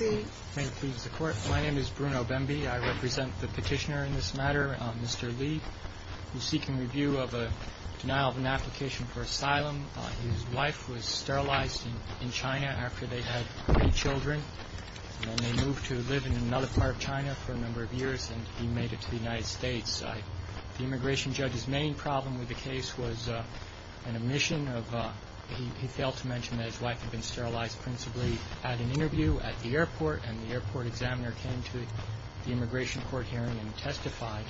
My name is Bruno Bemby. I represent the petitioner in this matter, Mr. Li, who is seeking review of a denial of an application for asylum. His wife was sterilized in China after they had three children. Then they moved to live in another part of China for a number of years and he made it to the United States. The immigration judge's main problem with the case was an omission of, he failed to mention that his wife had been sterilized principally at an airport and the airport examiner came to the immigration court hearing and testified.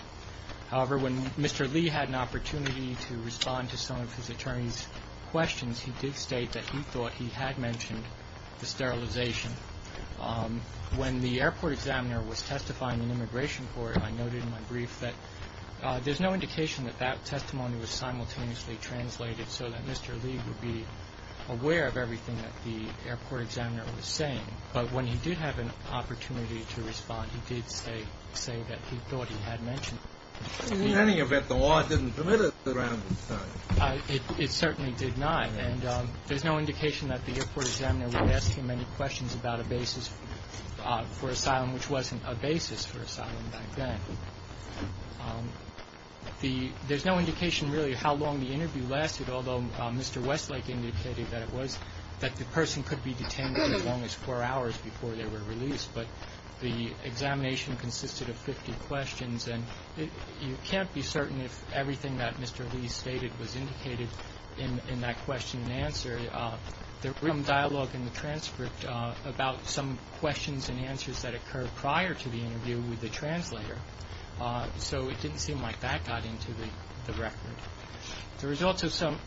However, when Mr. Li had an opportunity to respond to some of his attorney's questions, he did state that he thought he had mentioned the sterilization. When the airport examiner was testifying in immigration court, I noted in my brief that there's no indication that that testimony was simultaneously translated so that Mr. Li would be aware of everything that the airport examiner was saying. But when he did have an opportunity to respond, he did say that he thought he had mentioned it. GENERAL VERRILLI In any event, the law didn't permit it around this time. ASHCROFT It certainly did not. And there's no indication that the airport examiner would ask him any questions about a basis for asylum which wasn't a basis for asylum back then. There's no indication really how long the interview lasted, although Mr. Westlake indicated that it was that the person could be detained for as long as four hours before they were released. But the examination consisted of 50 questions, and you can't be certain if everything that Mr. Li stated was indicated in that question and answer. There was some dialogue in the transcript about some questions and answers that occurred prior to the interview with the translator. So it didn't seem like that got into the record. There was also some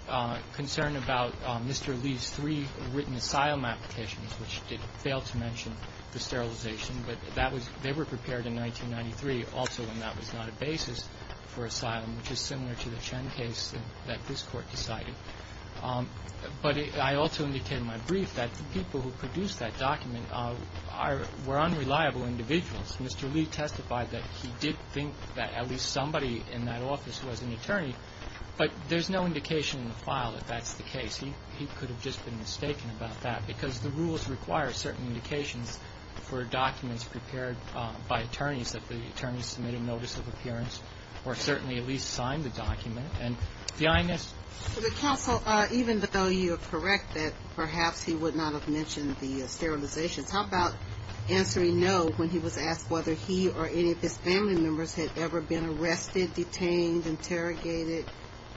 concern about Mr. Li's three written asylum applications, which failed to mention the sterilization. But that was they were prepared in 1993, also when that was not a basis for asylum, which is similar to the Chen case that this Court decided. But I also indicated in my brief that the people who produced that document were unreliable individuals. Mr. Li testified that he did think that at least somebody in that office was an attorney, but there's no indication in the file that that's the case. He could have just been mistaken about that, because the rules require certain indications for documents prepared by attorneys, that the attorneys submitted notice of appearance or certainly at least signed the document. And the INS. So the counsel, even though you are correct that perhaps he would not have mentioned the sterilizations, how about answering no when he was asked whether he or any of his family members had ever been arrested, detained, interrogated,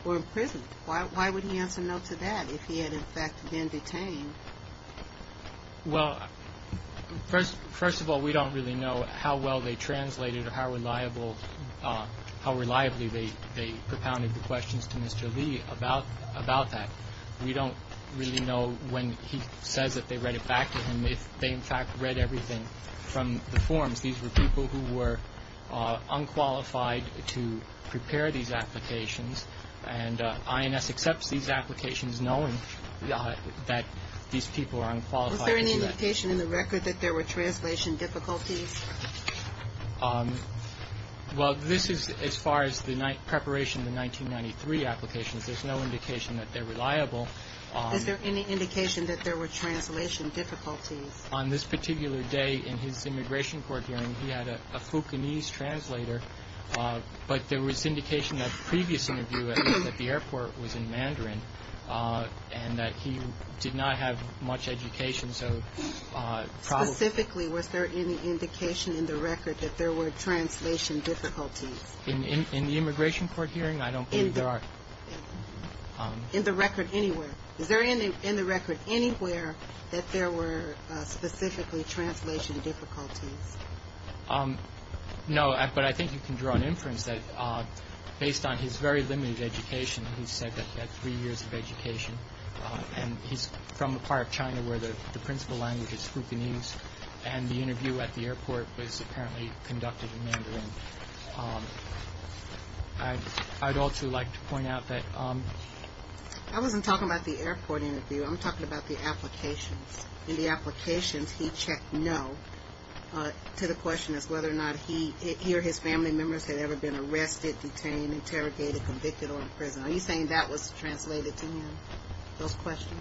or imprisoned? Why would he answer no to that if he had, in fact, been detained? Well, first of all, we don't really know how well they translated or how reliably they propounded the questions to Mr. Li about that. We don't really know when he says that they read it back to him if they, in fact, read everything from the forms. These were people who were unqualified to prepare these applications. And INS accepts these applications knowing that these people are unqualified to do that. Was there any indication in the record that there were translation difficulties? Well, this is as far as the preparation of the 1993 applications. There's no indication that they're reliable. Is there any indication that there were translation difficulties? On this particular day, in his immigration court hearing, he had a Fukunese translator, but there was indication that the previous interview at the airport was in Mandarin, and that he did not have much education, so probably... Specifically, was there any indication in the record that there were translation difficulties? In the immigration court hearing? I don't believe there are. In the record anywhere? Is there in the record anywhere that there were specifically translation difficulties? No, but I think you can draw an inference that based on his very limited education, he said that he had three years of education, and he's from a part of China where the principal language is Fukunese, and the interview at the airport was apparently conducted in Mandarin. I'd also like to point out that... I wasn't talking about the airport interview. I'm talking about the applications. In the applications, he checked no to the question as whether or not he or his family members had ever been arrested, detained, interrogated, convicted, or in prison. Are you saying that was translated to him, those questions?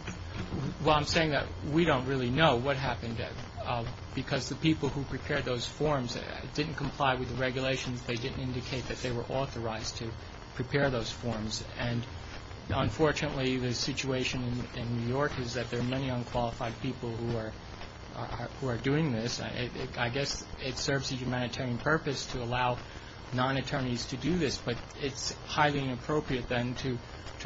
Well, I'm saying that we don't really know what happened, because the people who prepared those forms didn't comply with the regulations. They didn't indicate that they were authorized to prepare those forms, and unfortunately, the situation in New York is that there are many unqualified people who are doing this. I guess it serves a humanitarian purpose to allow non-attorneys to do this, but it's highly inappropriate then to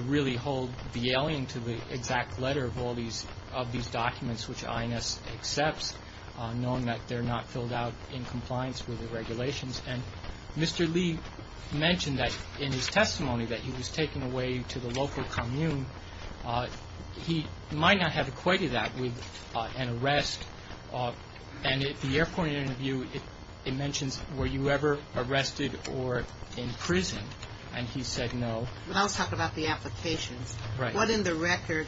really hold the alien to the exact letter of all these documents which INS accepts, knowing that they're not filled out in compliance with the regulations. And Mr. Lee mentioned that in his testimony that he was taken away to the local commune. He might not have equated that with an arrest, and at the airport interview, it mentions, were you ever arrested or in prison, and he said no. But I was talking about the applications. Right. What in the record,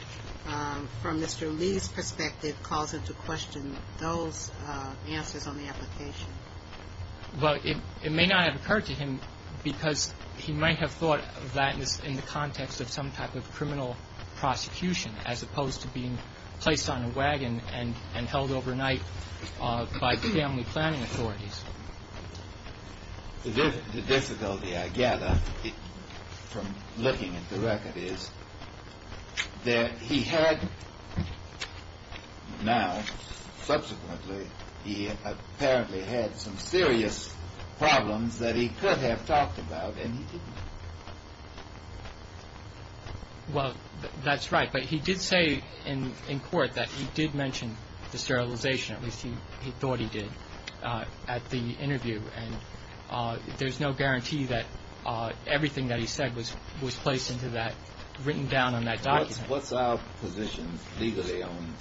from Mr. Lee's perspective, caused him to question those answers on the application? Well, it may not have occurred to him, because he might have thought that was in the context of some type of criminal prosecution, as opposed to being placed on a wagon and held overnight by family planning authorities. The difficulty, I gather, from looking at the record is that he had now, subsequently, he apparently had some serious problems that he could have talked about and he didn't. Well, that's right. But he did say in court that he did mention the sterilization, at the interview. And there's no guarantee that everything that he said was placed into that, written down on that document. What's our position legally on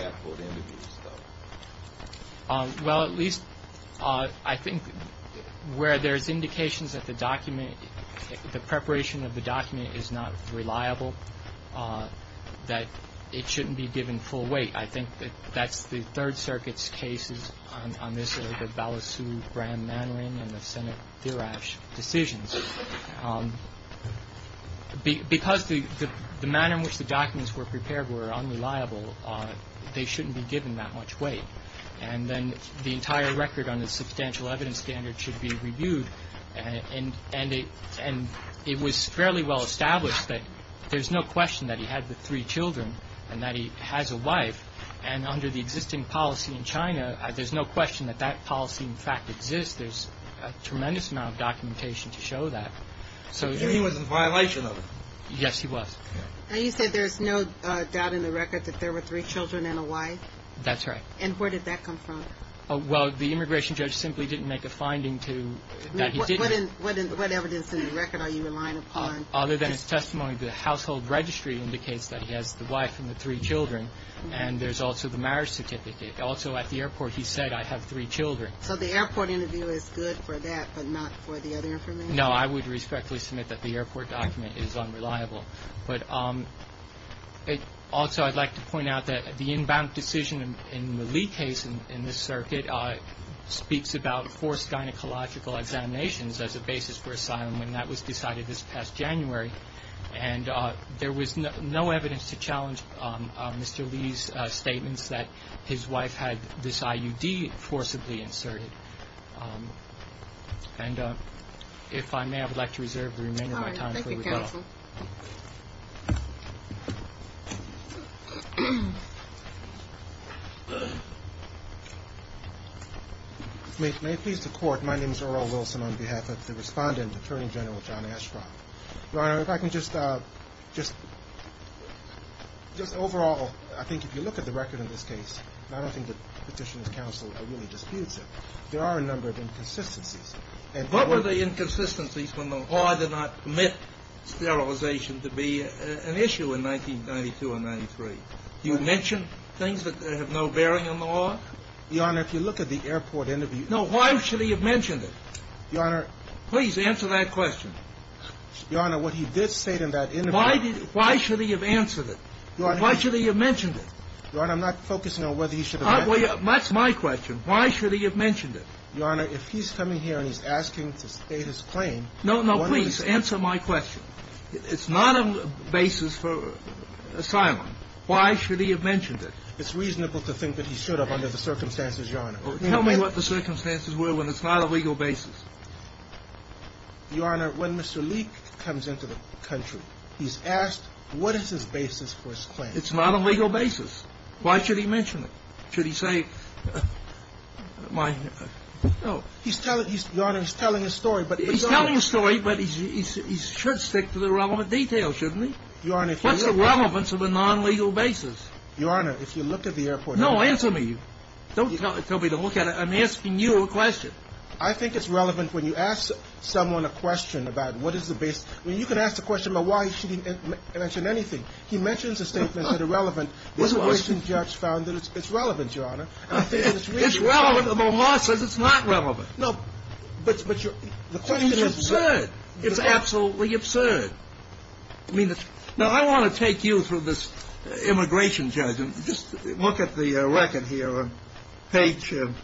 airport interviews, though? Well, at least I think where there's indications that the document, the preparation of the document is not reliable, that it shouldn't be given full weight. I think that that's the Third Circuit's cases on this, the Balasub-Bram-Mannering and the Senate-Dirac decisions. Because the manner in which the documents were prepared were unreliable, they shouldn't be given that much weight. And then the entire record on the substantial evidence standard should be reviewed. And it was fairly well established that there's no question that he had the three children and that he has a wife. And under the existing policy in China, there's no question that that policy, in fact, exists. There's a tremendous amount of documentation to show that. So he was in violation of it? Yes, he was. Now, you said there's no doubt in the record that there were three children and a wife? That's right. And where did that come from? Well, the immigration judge simply didn't make a finding to that he did. What evidence in the record are you relying upon? Other than his testimony, the household registry indicates that he has the wife and the three children. And there's also the marriage certificate. Also at the airport, he said, I have three children. So the airport interview is good for that, but not for the other information? No, I would respectfully submit that the airport document is unreliable. But also I'd like to point out that the inbound decision in the Li case in this circuit speaks about forced gynecological examinations as a basis for asylum. And that was decided this past January. And there was no evidence to challenge Mr. Li's statements that his wife had this IUD forcibly inserted. And if I may, I would like to reserve the remainder of my time for rebuttal. May it please the court, my name is Earl Wilson on behalf of the respondent, Attorney General John Ashcroft. Your Honor, if I can just overall, I think if you look at the record in this case, I don't think the Petitioner's Counsel really disputes it. There are a number of inconsistencies. What were the inconsistencies when the law did not permit sterilization to be an issue in 1992 and 1993? Do you mention things that have no bearing on the law? Your Honor, if you look at the airport interview. No, why should he have mentioned it? Your Honor. Please answer that question. Your Honor, what he did state in that interview. Why should he have answered it? Your Honor. Why should he have mentioned it? Your Honor, I'm not focusing on whether he should have mentioned it. That's my question. Why should he have mentioned it? Your Honor, if he's coming here and he's asking to state his claim. No, no, please answer my question. It's not a basis for asylum. Why should he have mentioned it? It's reasonable to think that he should have under the circumstances, Your Honor. Tell me what the circumstances were when it's not a legal basis. Your Honor, when Mr. Leak comes into the country, he's asked what is his basis for his claim. It's not a legal basis. Why should he mention it? Should he say, my, no. Your Honor, he's telling a story. He's telling a story, but he should stick to the relevant details, shouldn't he? Your Honor, if you look at it. What's the relevance of a non-legal basis? Your Honor, if you look at the airport interview. No, answer me. Don't tell me to look at it. I'm asking you a question. I think it's relevant when you ask someone a question about what is the basis. I mean, you can ask a question about why he shouldn't mention anything. He mentions a statement that irrelevant. The immigration judge found that it's relevant, Your Honor. It's relevant, but the law says it's not relevant. No, but your claim is absurd. It's absolutely absurd. Now, I want to take you through this immigration judge. Just look at the record here on page 40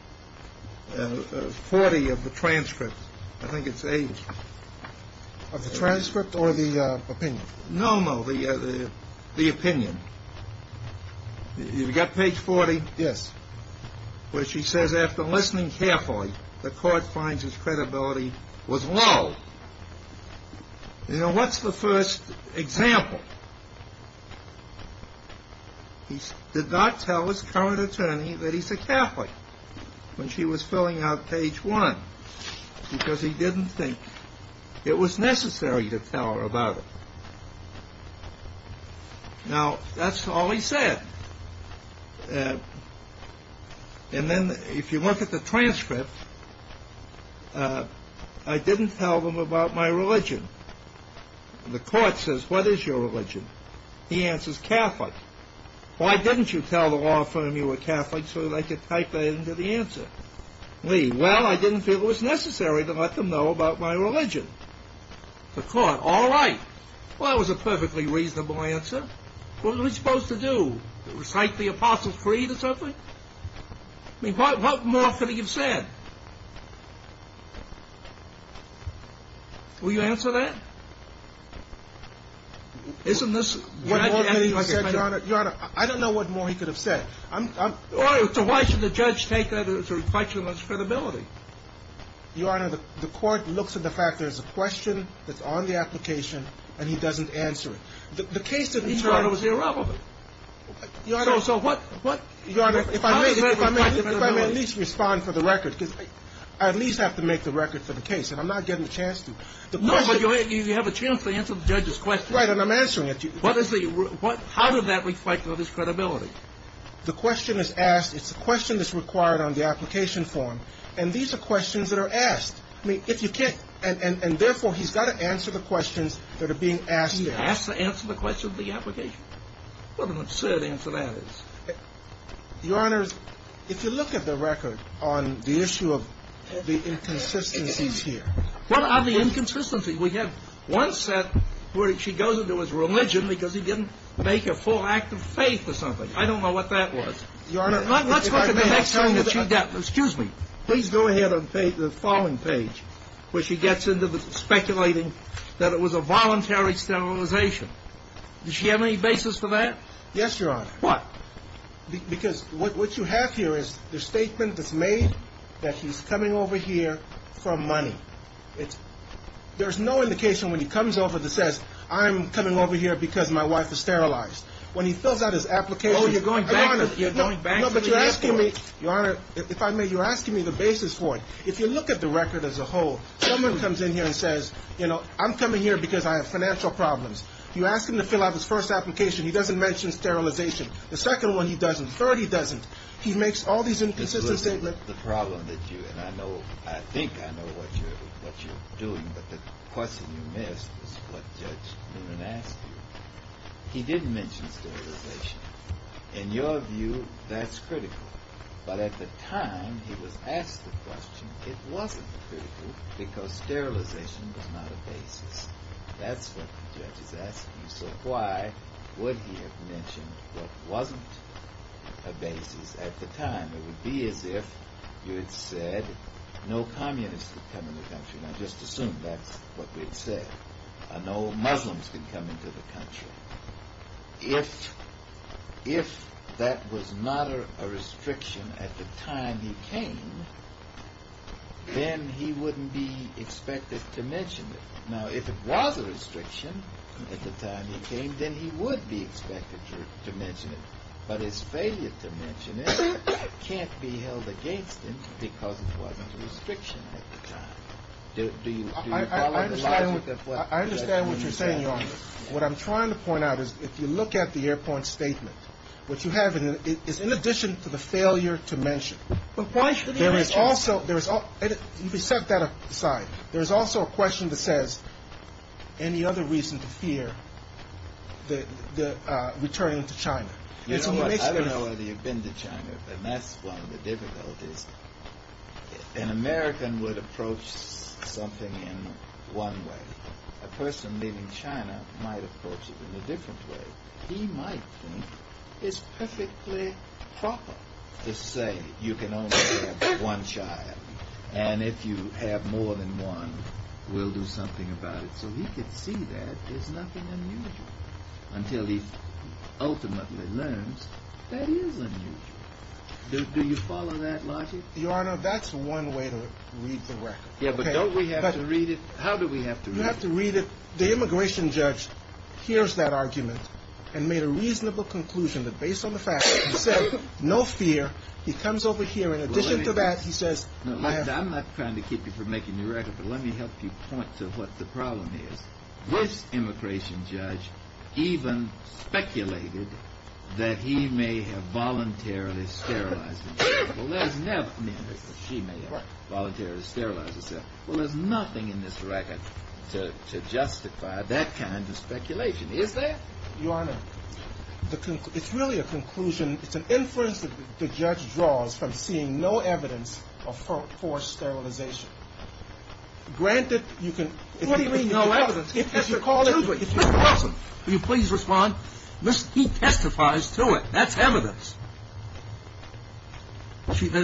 of the transcript. I think it's age. Of the transcript or the opinion? No, no, the opinion. You've got page 40? Yes. Where she says, after listening carefully, the court finds his credibility was low. You know, what's the first example? He did not tell his current attorney that he's a Catholic when she was filling out page 1 because he didn't think it was necessary to tell her about it. Now, that's all he said. And then if you look at the transcript, I didn't tell them about my religion. The court says, what is your religion? He answers, Catholic. Why didn't you tell the law firm you were Catholic so they could type that into the answer? Lee, well, I didn't feel it was necessary to let them know about my religion. The court, all right. Well, that was a perfectly reasonable answer. What are we supposed to do? Recite the Apostles' Creed or something? I mean, what more could he have said? Will you answer that? Isn't this what I'm asking? Your Honor, I don't know what more he could have said. So why should the judge take that as a reflection of his credibility? Your Honor, the court looks at the fact there's a question that's on the application, and he doesn't answer it. The case didn't turn out. He thought it was irrelevant. Your Honor, if I may at least respond for the record, because I at least have to make the record for the case, and I'm not getting a chance to. No, but you have a chance to answer the judge's question. Right, and I'm answering it. How does that reflect on his credibility? The question is asked. It's a question that's required on the application form. And these are questions that are asked. I mean, if you can't, and therefore he's got to answer the questions that are being asked there. He has to answer the question of the application. What an absurd answer that is. Your Honor, if you look at the record on the issue of the inconsistencies here. What are the inconsistencies? We have one set where she goes into his religion because he didn't make a full act of faith or something. I don't know what that was. Your Honor, if I may. Let's look at the next time that she. Excuse me. Please go ahead on the following page where she gets into speculating that it was a voluntary sterilization. Does she have any basis for that? Yes, Your Honor. Why? Because what you have here is the statement that's made that he's coming over here for money. There's no indication when he comes over that says, I'm coming over here because my wife is sterilized. When he fills out his application. Oh, you're going back. You're going back. No, but you're asking me. Your Honor, if I may, you're asking me the basis for it. If you look at the record as a whole, someone comes in here and says, you know, I'm coming here because I have financial problems. You ask him to fill out his first application. He doesn't mention sterilization. The second one, he doesn't. Third, he doesn't. He makes all these inconsistencies. I think I know what you're doing, but the question you missed was what Judge Newman asked you. He didn't mention sterilization. In your view, that's critical. But at the time he was asked the question, it wasn't critical because sterilization was not a basis. That's what the judge is asking. So why would he have mentioned what wasn't a basis at the time? It would be as if you had said no communists could come into the country. Now, just assume that's what we had said. No Muslims could come into the country. If that was not a restriction at the time he came, then he wouldn't be expected to mention it. Now, if it was a restriction at the time he came, then he would be expected to mention it. But his failure to mention it can't be held against him because it wasn't a restriction at the time. Do you follow the logic of what Judge Newman said? I understand what you're saying, Your Honor. What I'm trying to point out is if you look at the airport statement, what you have is in addition to the failure to mention. But why should he mention it? You can set that aside. There's also a question that says, any other reason to fear returning to China? You know what, I don't know whether you've been to China, but that's one of the difficulties. An American would approach something in one way. A person leaving China might approach it in a different way. He might think it's perfectly proper to say you can only have one child. And if you have more than one, we'll do something about it. So he could see that there's nothing unusual until he ultimately learns that is unusual. Do you follow that logic? Your Honor, that's one way to read the record. Yeah, but don't we have to read it? How do we have to read it? You have to read it. The immigration judge hears that argument and made a reasonable conclusion that based on the fact that he said no fear, he comes over here. I'm not trying to keep you from making the record, but let me help you point to what the problem is. This immigration judge even speculated that he may have voluntarily sterilized himself. Well, there's nothing in this record to justify that kind of speculation. Is there? Your Honor, it's really a conclusion. It's an inference that the judge draws from seeing no evidence of forced sterilization. Granted, you can – What do you mean no evidence? Mr. Carson, will you please respond? He testifies to it. That's evidence.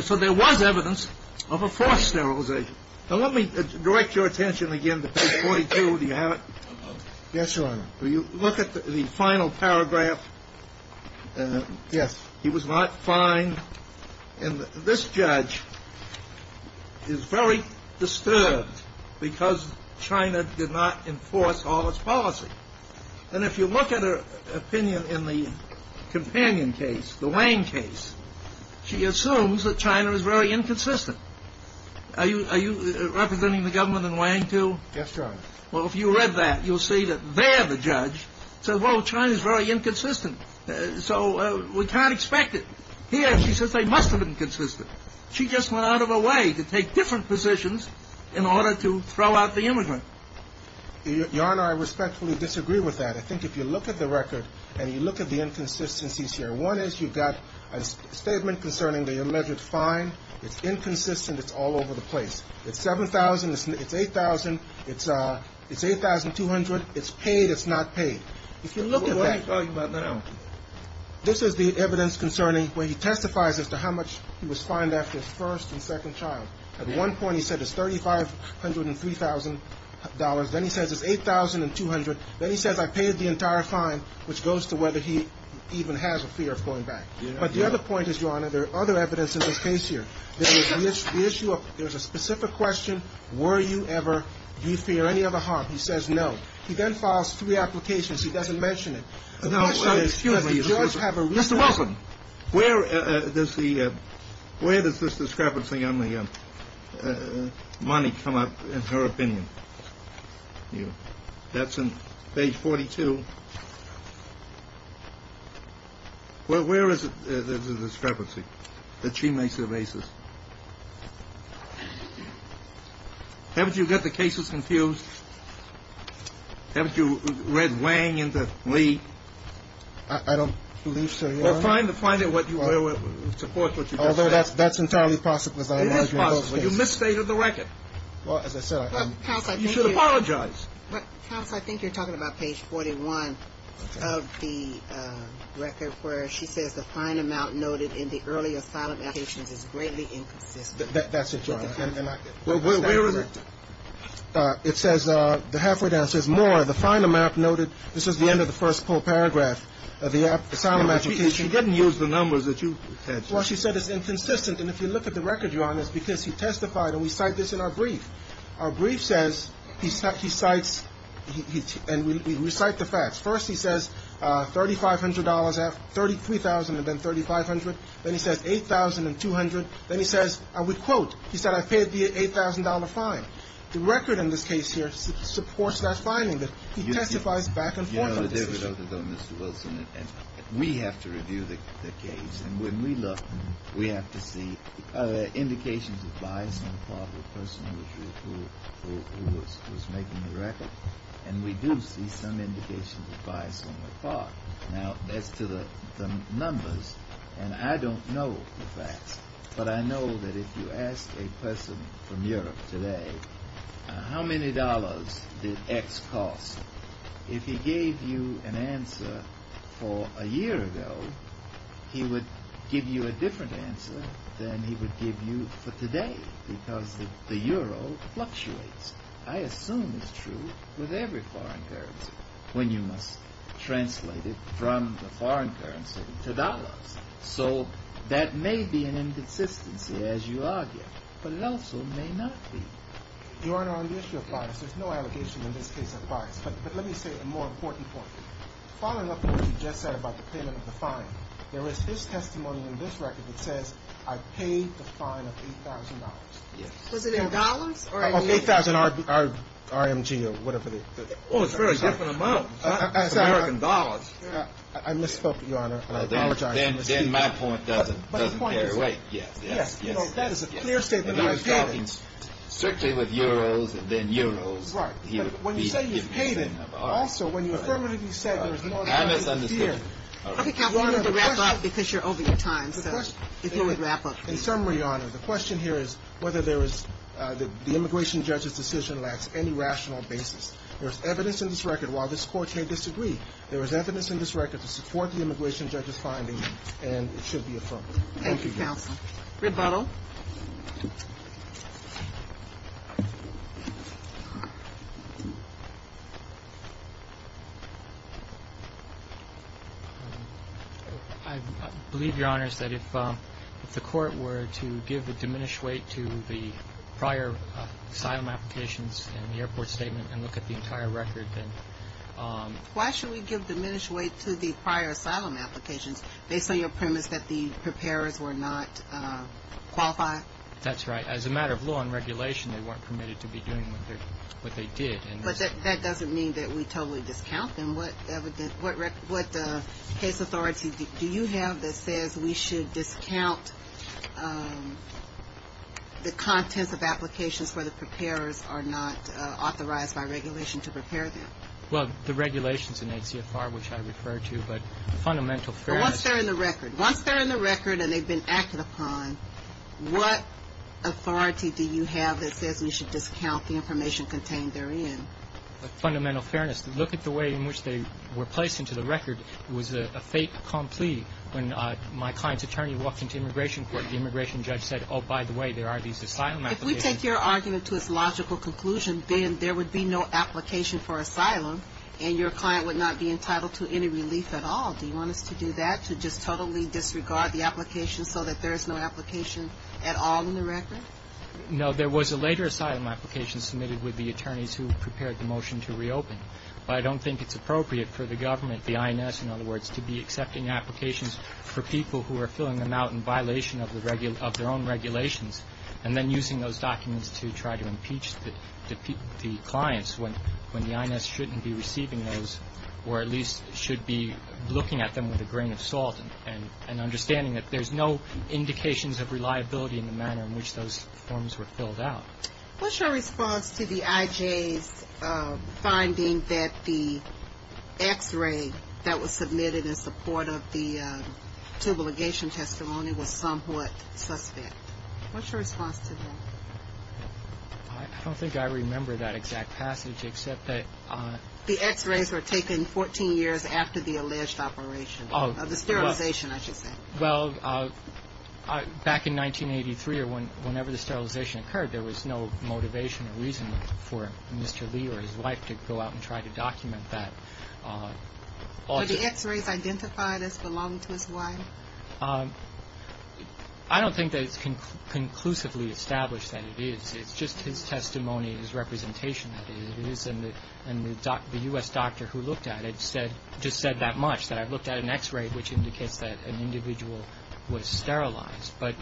So there was evidence of a forced sterilization. Now, let me direct your attention again to page 42. Do you have it? Yes, Your Honor. Will you look at the final paragraph? Yes. He was not fined. And this judge is very disturbed because China did not enforce all its policy. And if you look at her opinion in the companion case, the Wang case, she assumes that China is very inconsistent. Are you representing the government in Wang, too? Yes, Your Honor. Well, if you read that, you'll see that there the judge says, well, China is very inconsistent. So we can't expect it. Here she says they must have been consistent. She just went out of her way to take different positions in order to throw out the immigrant. Your Honor, I respectfully disagree with that. I think if you look at the record and you look at the inconsistencies here, one is you've got a statement concerning the alleged fine. It's inconsistent. It's all over the place. It's 7,000. It's 8,000. It's 8,200. It's paid. It's not paid. If you look at that, this is the evidence concerning where he testifies as to how much he was fined after his first and second child. At one point he said it's $3,503,000. Then he says it's 8,200. Then he says I paid the entire fine, which goes to whether he even has a fear of going back. But the other point is, Your Honor, there are other evidence in this case here. There's a specific question. Were you ever, do you fear any other harm? He says no. He then files three applications. He doesn't mention it. Excuse me. Does the judge have a reason? Mr. Wilson, where does this discrepancy on the money come up in her opinion? That's in page 42. Well, where is the discrepancy that she makes or raises? Haven't you got the cases confused? Haven't you read Wang into Lee? I don't believe so, Your Honor. Well, find it, support what you just said. Although that's entirely possible, as I imagine. It is possible. You misstated the record. Well, as I said, I'm… You should apologize. Counsel, I think you're talking about page 41 of the record, where she says the fine amount noted in the early asylum applications is greatly inconsistent. That's it, Your Honor. Where is it? It says, the halfway down, it says more. The fine amount noted, this is the end of the first full paragraph of the asylum application. She didn't use the numbers that you had. Well, she said it's inconsistent. And if you look at the record, Your Honor, it's because he testified, and we cite this in our brief. Our brief says, he cites, and we recite the facts. First he says $3,500, $33,000 had been $3,500. Then he says $8,200. Then he says, I would quote, he said, I paid the $8,000 fine. The record in this case here supports that finding. He testifies back and forth on this issue. You know, Mr. Wilson, we have to review the case. And when we look, we have to see indications of bias on the part of the person who was making the record. And we do see some indications of bias on the part. Now, as to the numbers, and I don't know the facts, but I know that if you ask a person from Europe today, how many dollars did X cost, if he gave you an answer for a year ago, he would give you a different answer than he would give you for today, because the euro fluctuates. I assume it's true with every foreign currency, when you must translate it from the foreign currency to dollars. So that may be an inconsistency, as you argue, but it also may not be. Your Honor, on the issue of bias, there's no allegation in this case of bias. But let me say a more important point. Following up on what you just said about the payment of the fine, there is this testimony in this record that says, I paid the fine of $8,000. Yes. Was it in dollars? $8,000 RMG, or whatever the. Oh, it's a very different amount. It's American dollars. I misspoke, Your Honor, and I apologize. Then my point doesn't get away. Yes, yes, yes. That is a clear statement. He was talking strictly with euros and then euros. Right. But when you say you paid it, also, when you affirmatively said there was no. I misunderstood. Okay, counsel, you need to wrap up, because you're over your time. So if you would wrap up. In summary, Your Honor, the question here is whether the immigration judge's decision lacks any rational basis. There is evidence in this record, while this Court may disagree, there is evidence in this record to support the immigration judge's finding, and it should be affirmed. Thank you, counsel. Rebuttal. I believe, Your Honor, that if the Court were to give a diminished weight to the prior asylum applications and the airport statement and look at the entire record, then. Why should we give diminished weight to the prior asylum applications, based on your premise that the preparers were not qualified? That's right. As a matter of law and regulation, they weren't permitted to be doing what they did. But that doesn't mean that we totally discount them. What case authority do you have that says we should discount the contents of applications where the preparers are not authorized by regulation to prepare them? Well, the regulations in HCFR, which I referred to, but fundamental fairness. Once they're in the record. Once they're in the record and they've been acted upon, what authority do you have that says we should discount the information contained therein? Fundamental fairness. Look at the way in which they were placed into the record. It was a fait accompli when my client's attorney walked into immigration court. The immigration judge said, oh, by the way, there are these asylum applications. If we take your argument to its logical conclusion, then there would be no application for asylum, and your client would not be entitled to any relief at all. Do you want us to do that, to just totally disregard the application so that there is no application at all in the record? No. There was a later asylum application submitted with the attorneys who prepared the motion to reopen. But I don't think it's appropriate for the government, the INS, in other words, to be accepting applications for people who are filling them out in violation of their own regulations and then using those documents to try to impeach the clients when the INS shouldn't be receiving those or at least should be looking at them with a grain of salt and understanding that there's no indications of reliability in the manner in which those forms were filled out. What's your response to the IJ's finding that the X-ray that was submitted in support of the tubal ligation testimony was somewhat suspect? What's your response to that? I don't think I remember that exact passage except that the X-rays were taken 14 years after the alleged operation of the sterilization, I should say. Well, back in 1983 or whenever the sterilization occurred, there was no motivation or reason for Mr. Lee or his wife to go out and try to document that. Were the X-rays identified as belonging to his wife? I don't think that it's conclusively established that it is. It's just his testimony, his representation that it is, and the U.S. doctor who looked at it just said that much, that I looked at an X-ray which indicates that an individual was sterilized. But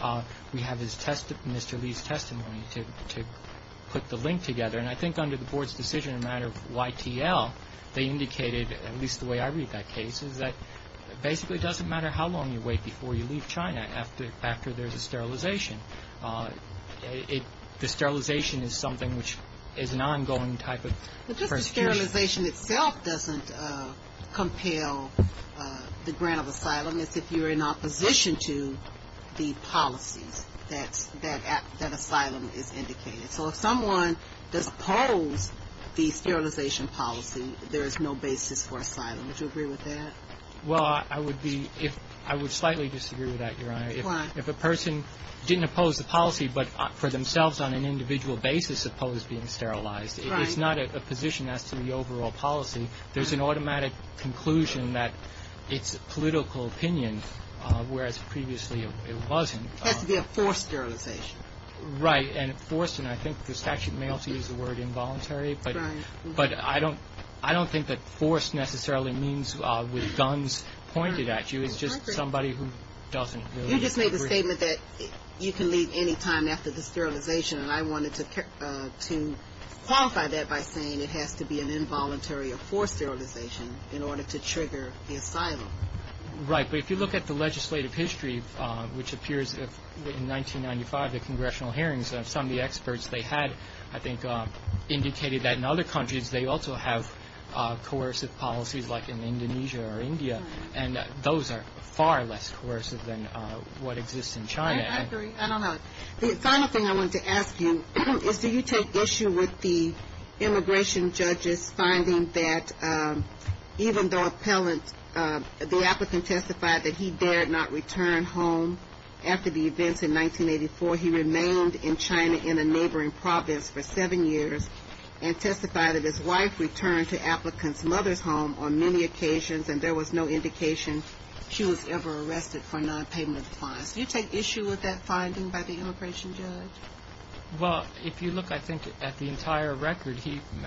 we have Mr. Lee's testimony to put the link together, and I think under the board's decision in the matter of YTL, they indicated, at least the way I read that case, is that basically it doesn't matter how long you wait before you leave China after there's a sterilization. The sterilization is something which is an ongoing type of persecution. But just the sterilization itself doesn't compel the grant of asylum. It's if you're in opposition to the policies that asylum is indicated. So if someone does oppose the sterilization policy, there is no basis for asylum. Would you agree with that? Well, I would slightly disagree with that, Your Honor. Why? If a person didn't oppose the policy but for themselves on an individual basis opposed being sterilized, it's not a position as to the overall policy. There's an automatic conclusion that it's a political opinion, whereas previously it wasn't. It has to be a forced sterilization. Right. And forced, and I think the statute may also use the word involuntary, but I don't think that forced necessarily means with guns pointed at you. You just made the statement that you can leave any time after the sterilization, and I wanted to qualify that by saying it has to be an involuntary or forced sterilization in order to trigger the asylum. Right. But if you look at the legislative history, which appears in 1995, the congressional hearings of some of the experts they had, I think, indicated that in other countries and those are far less coercive than what exists in China. I agree. I don't know. The final thing I wanted to ask you is do you take issue with the immigration judges finding that even though appellant, the applicant testified that he dared not return home after the events in 1984, he remained in China in a neighboring province for seven years and testified that his wife returned to applicant's mother's home on many occasions and there was no indication she was ever arrested for nonpayment of fines. Do you take issue with that finding by the immigration judge? Well, if you look, I think, at the entire record,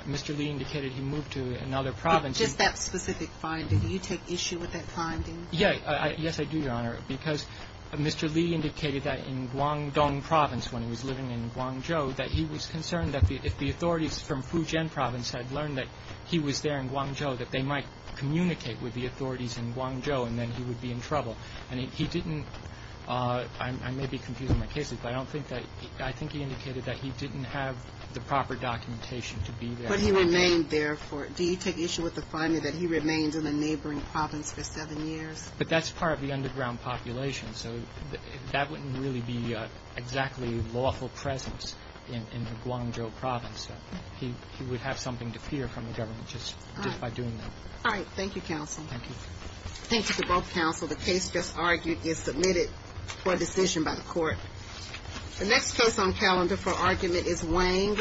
Mr. Lee indicated he moved to another province. Just that specific finding. Do you take issue with that finding? Yes. Yes, I do, Your Honor, because Mr. Lee indicated that in Guangdong province when he was living in Guangzhou that he was concerned that if the authorities from Fujian province had learned that he was there in Guangzhou, that they might communicate with the authorities in Guangzhou and then he would be in trouble. And he didn't – I may be confusing my cases, but I don't think that – I think he indicated that he didn't have the proper documentation to be there. But he remained there for – do you take issue with the finding that he remained in a neighboring province for seven years? But that's part of the underground population, so that wouldn't really be exactly a lawful presence in the Guangzhou province. He would have something to fear from the government just by doing that. All right. Thank you, counsel. Thank you. Thank you to both counsel. The case just argued is submitted for decision by the court. The next case on calendar for argument is Wang v. Ashcroft.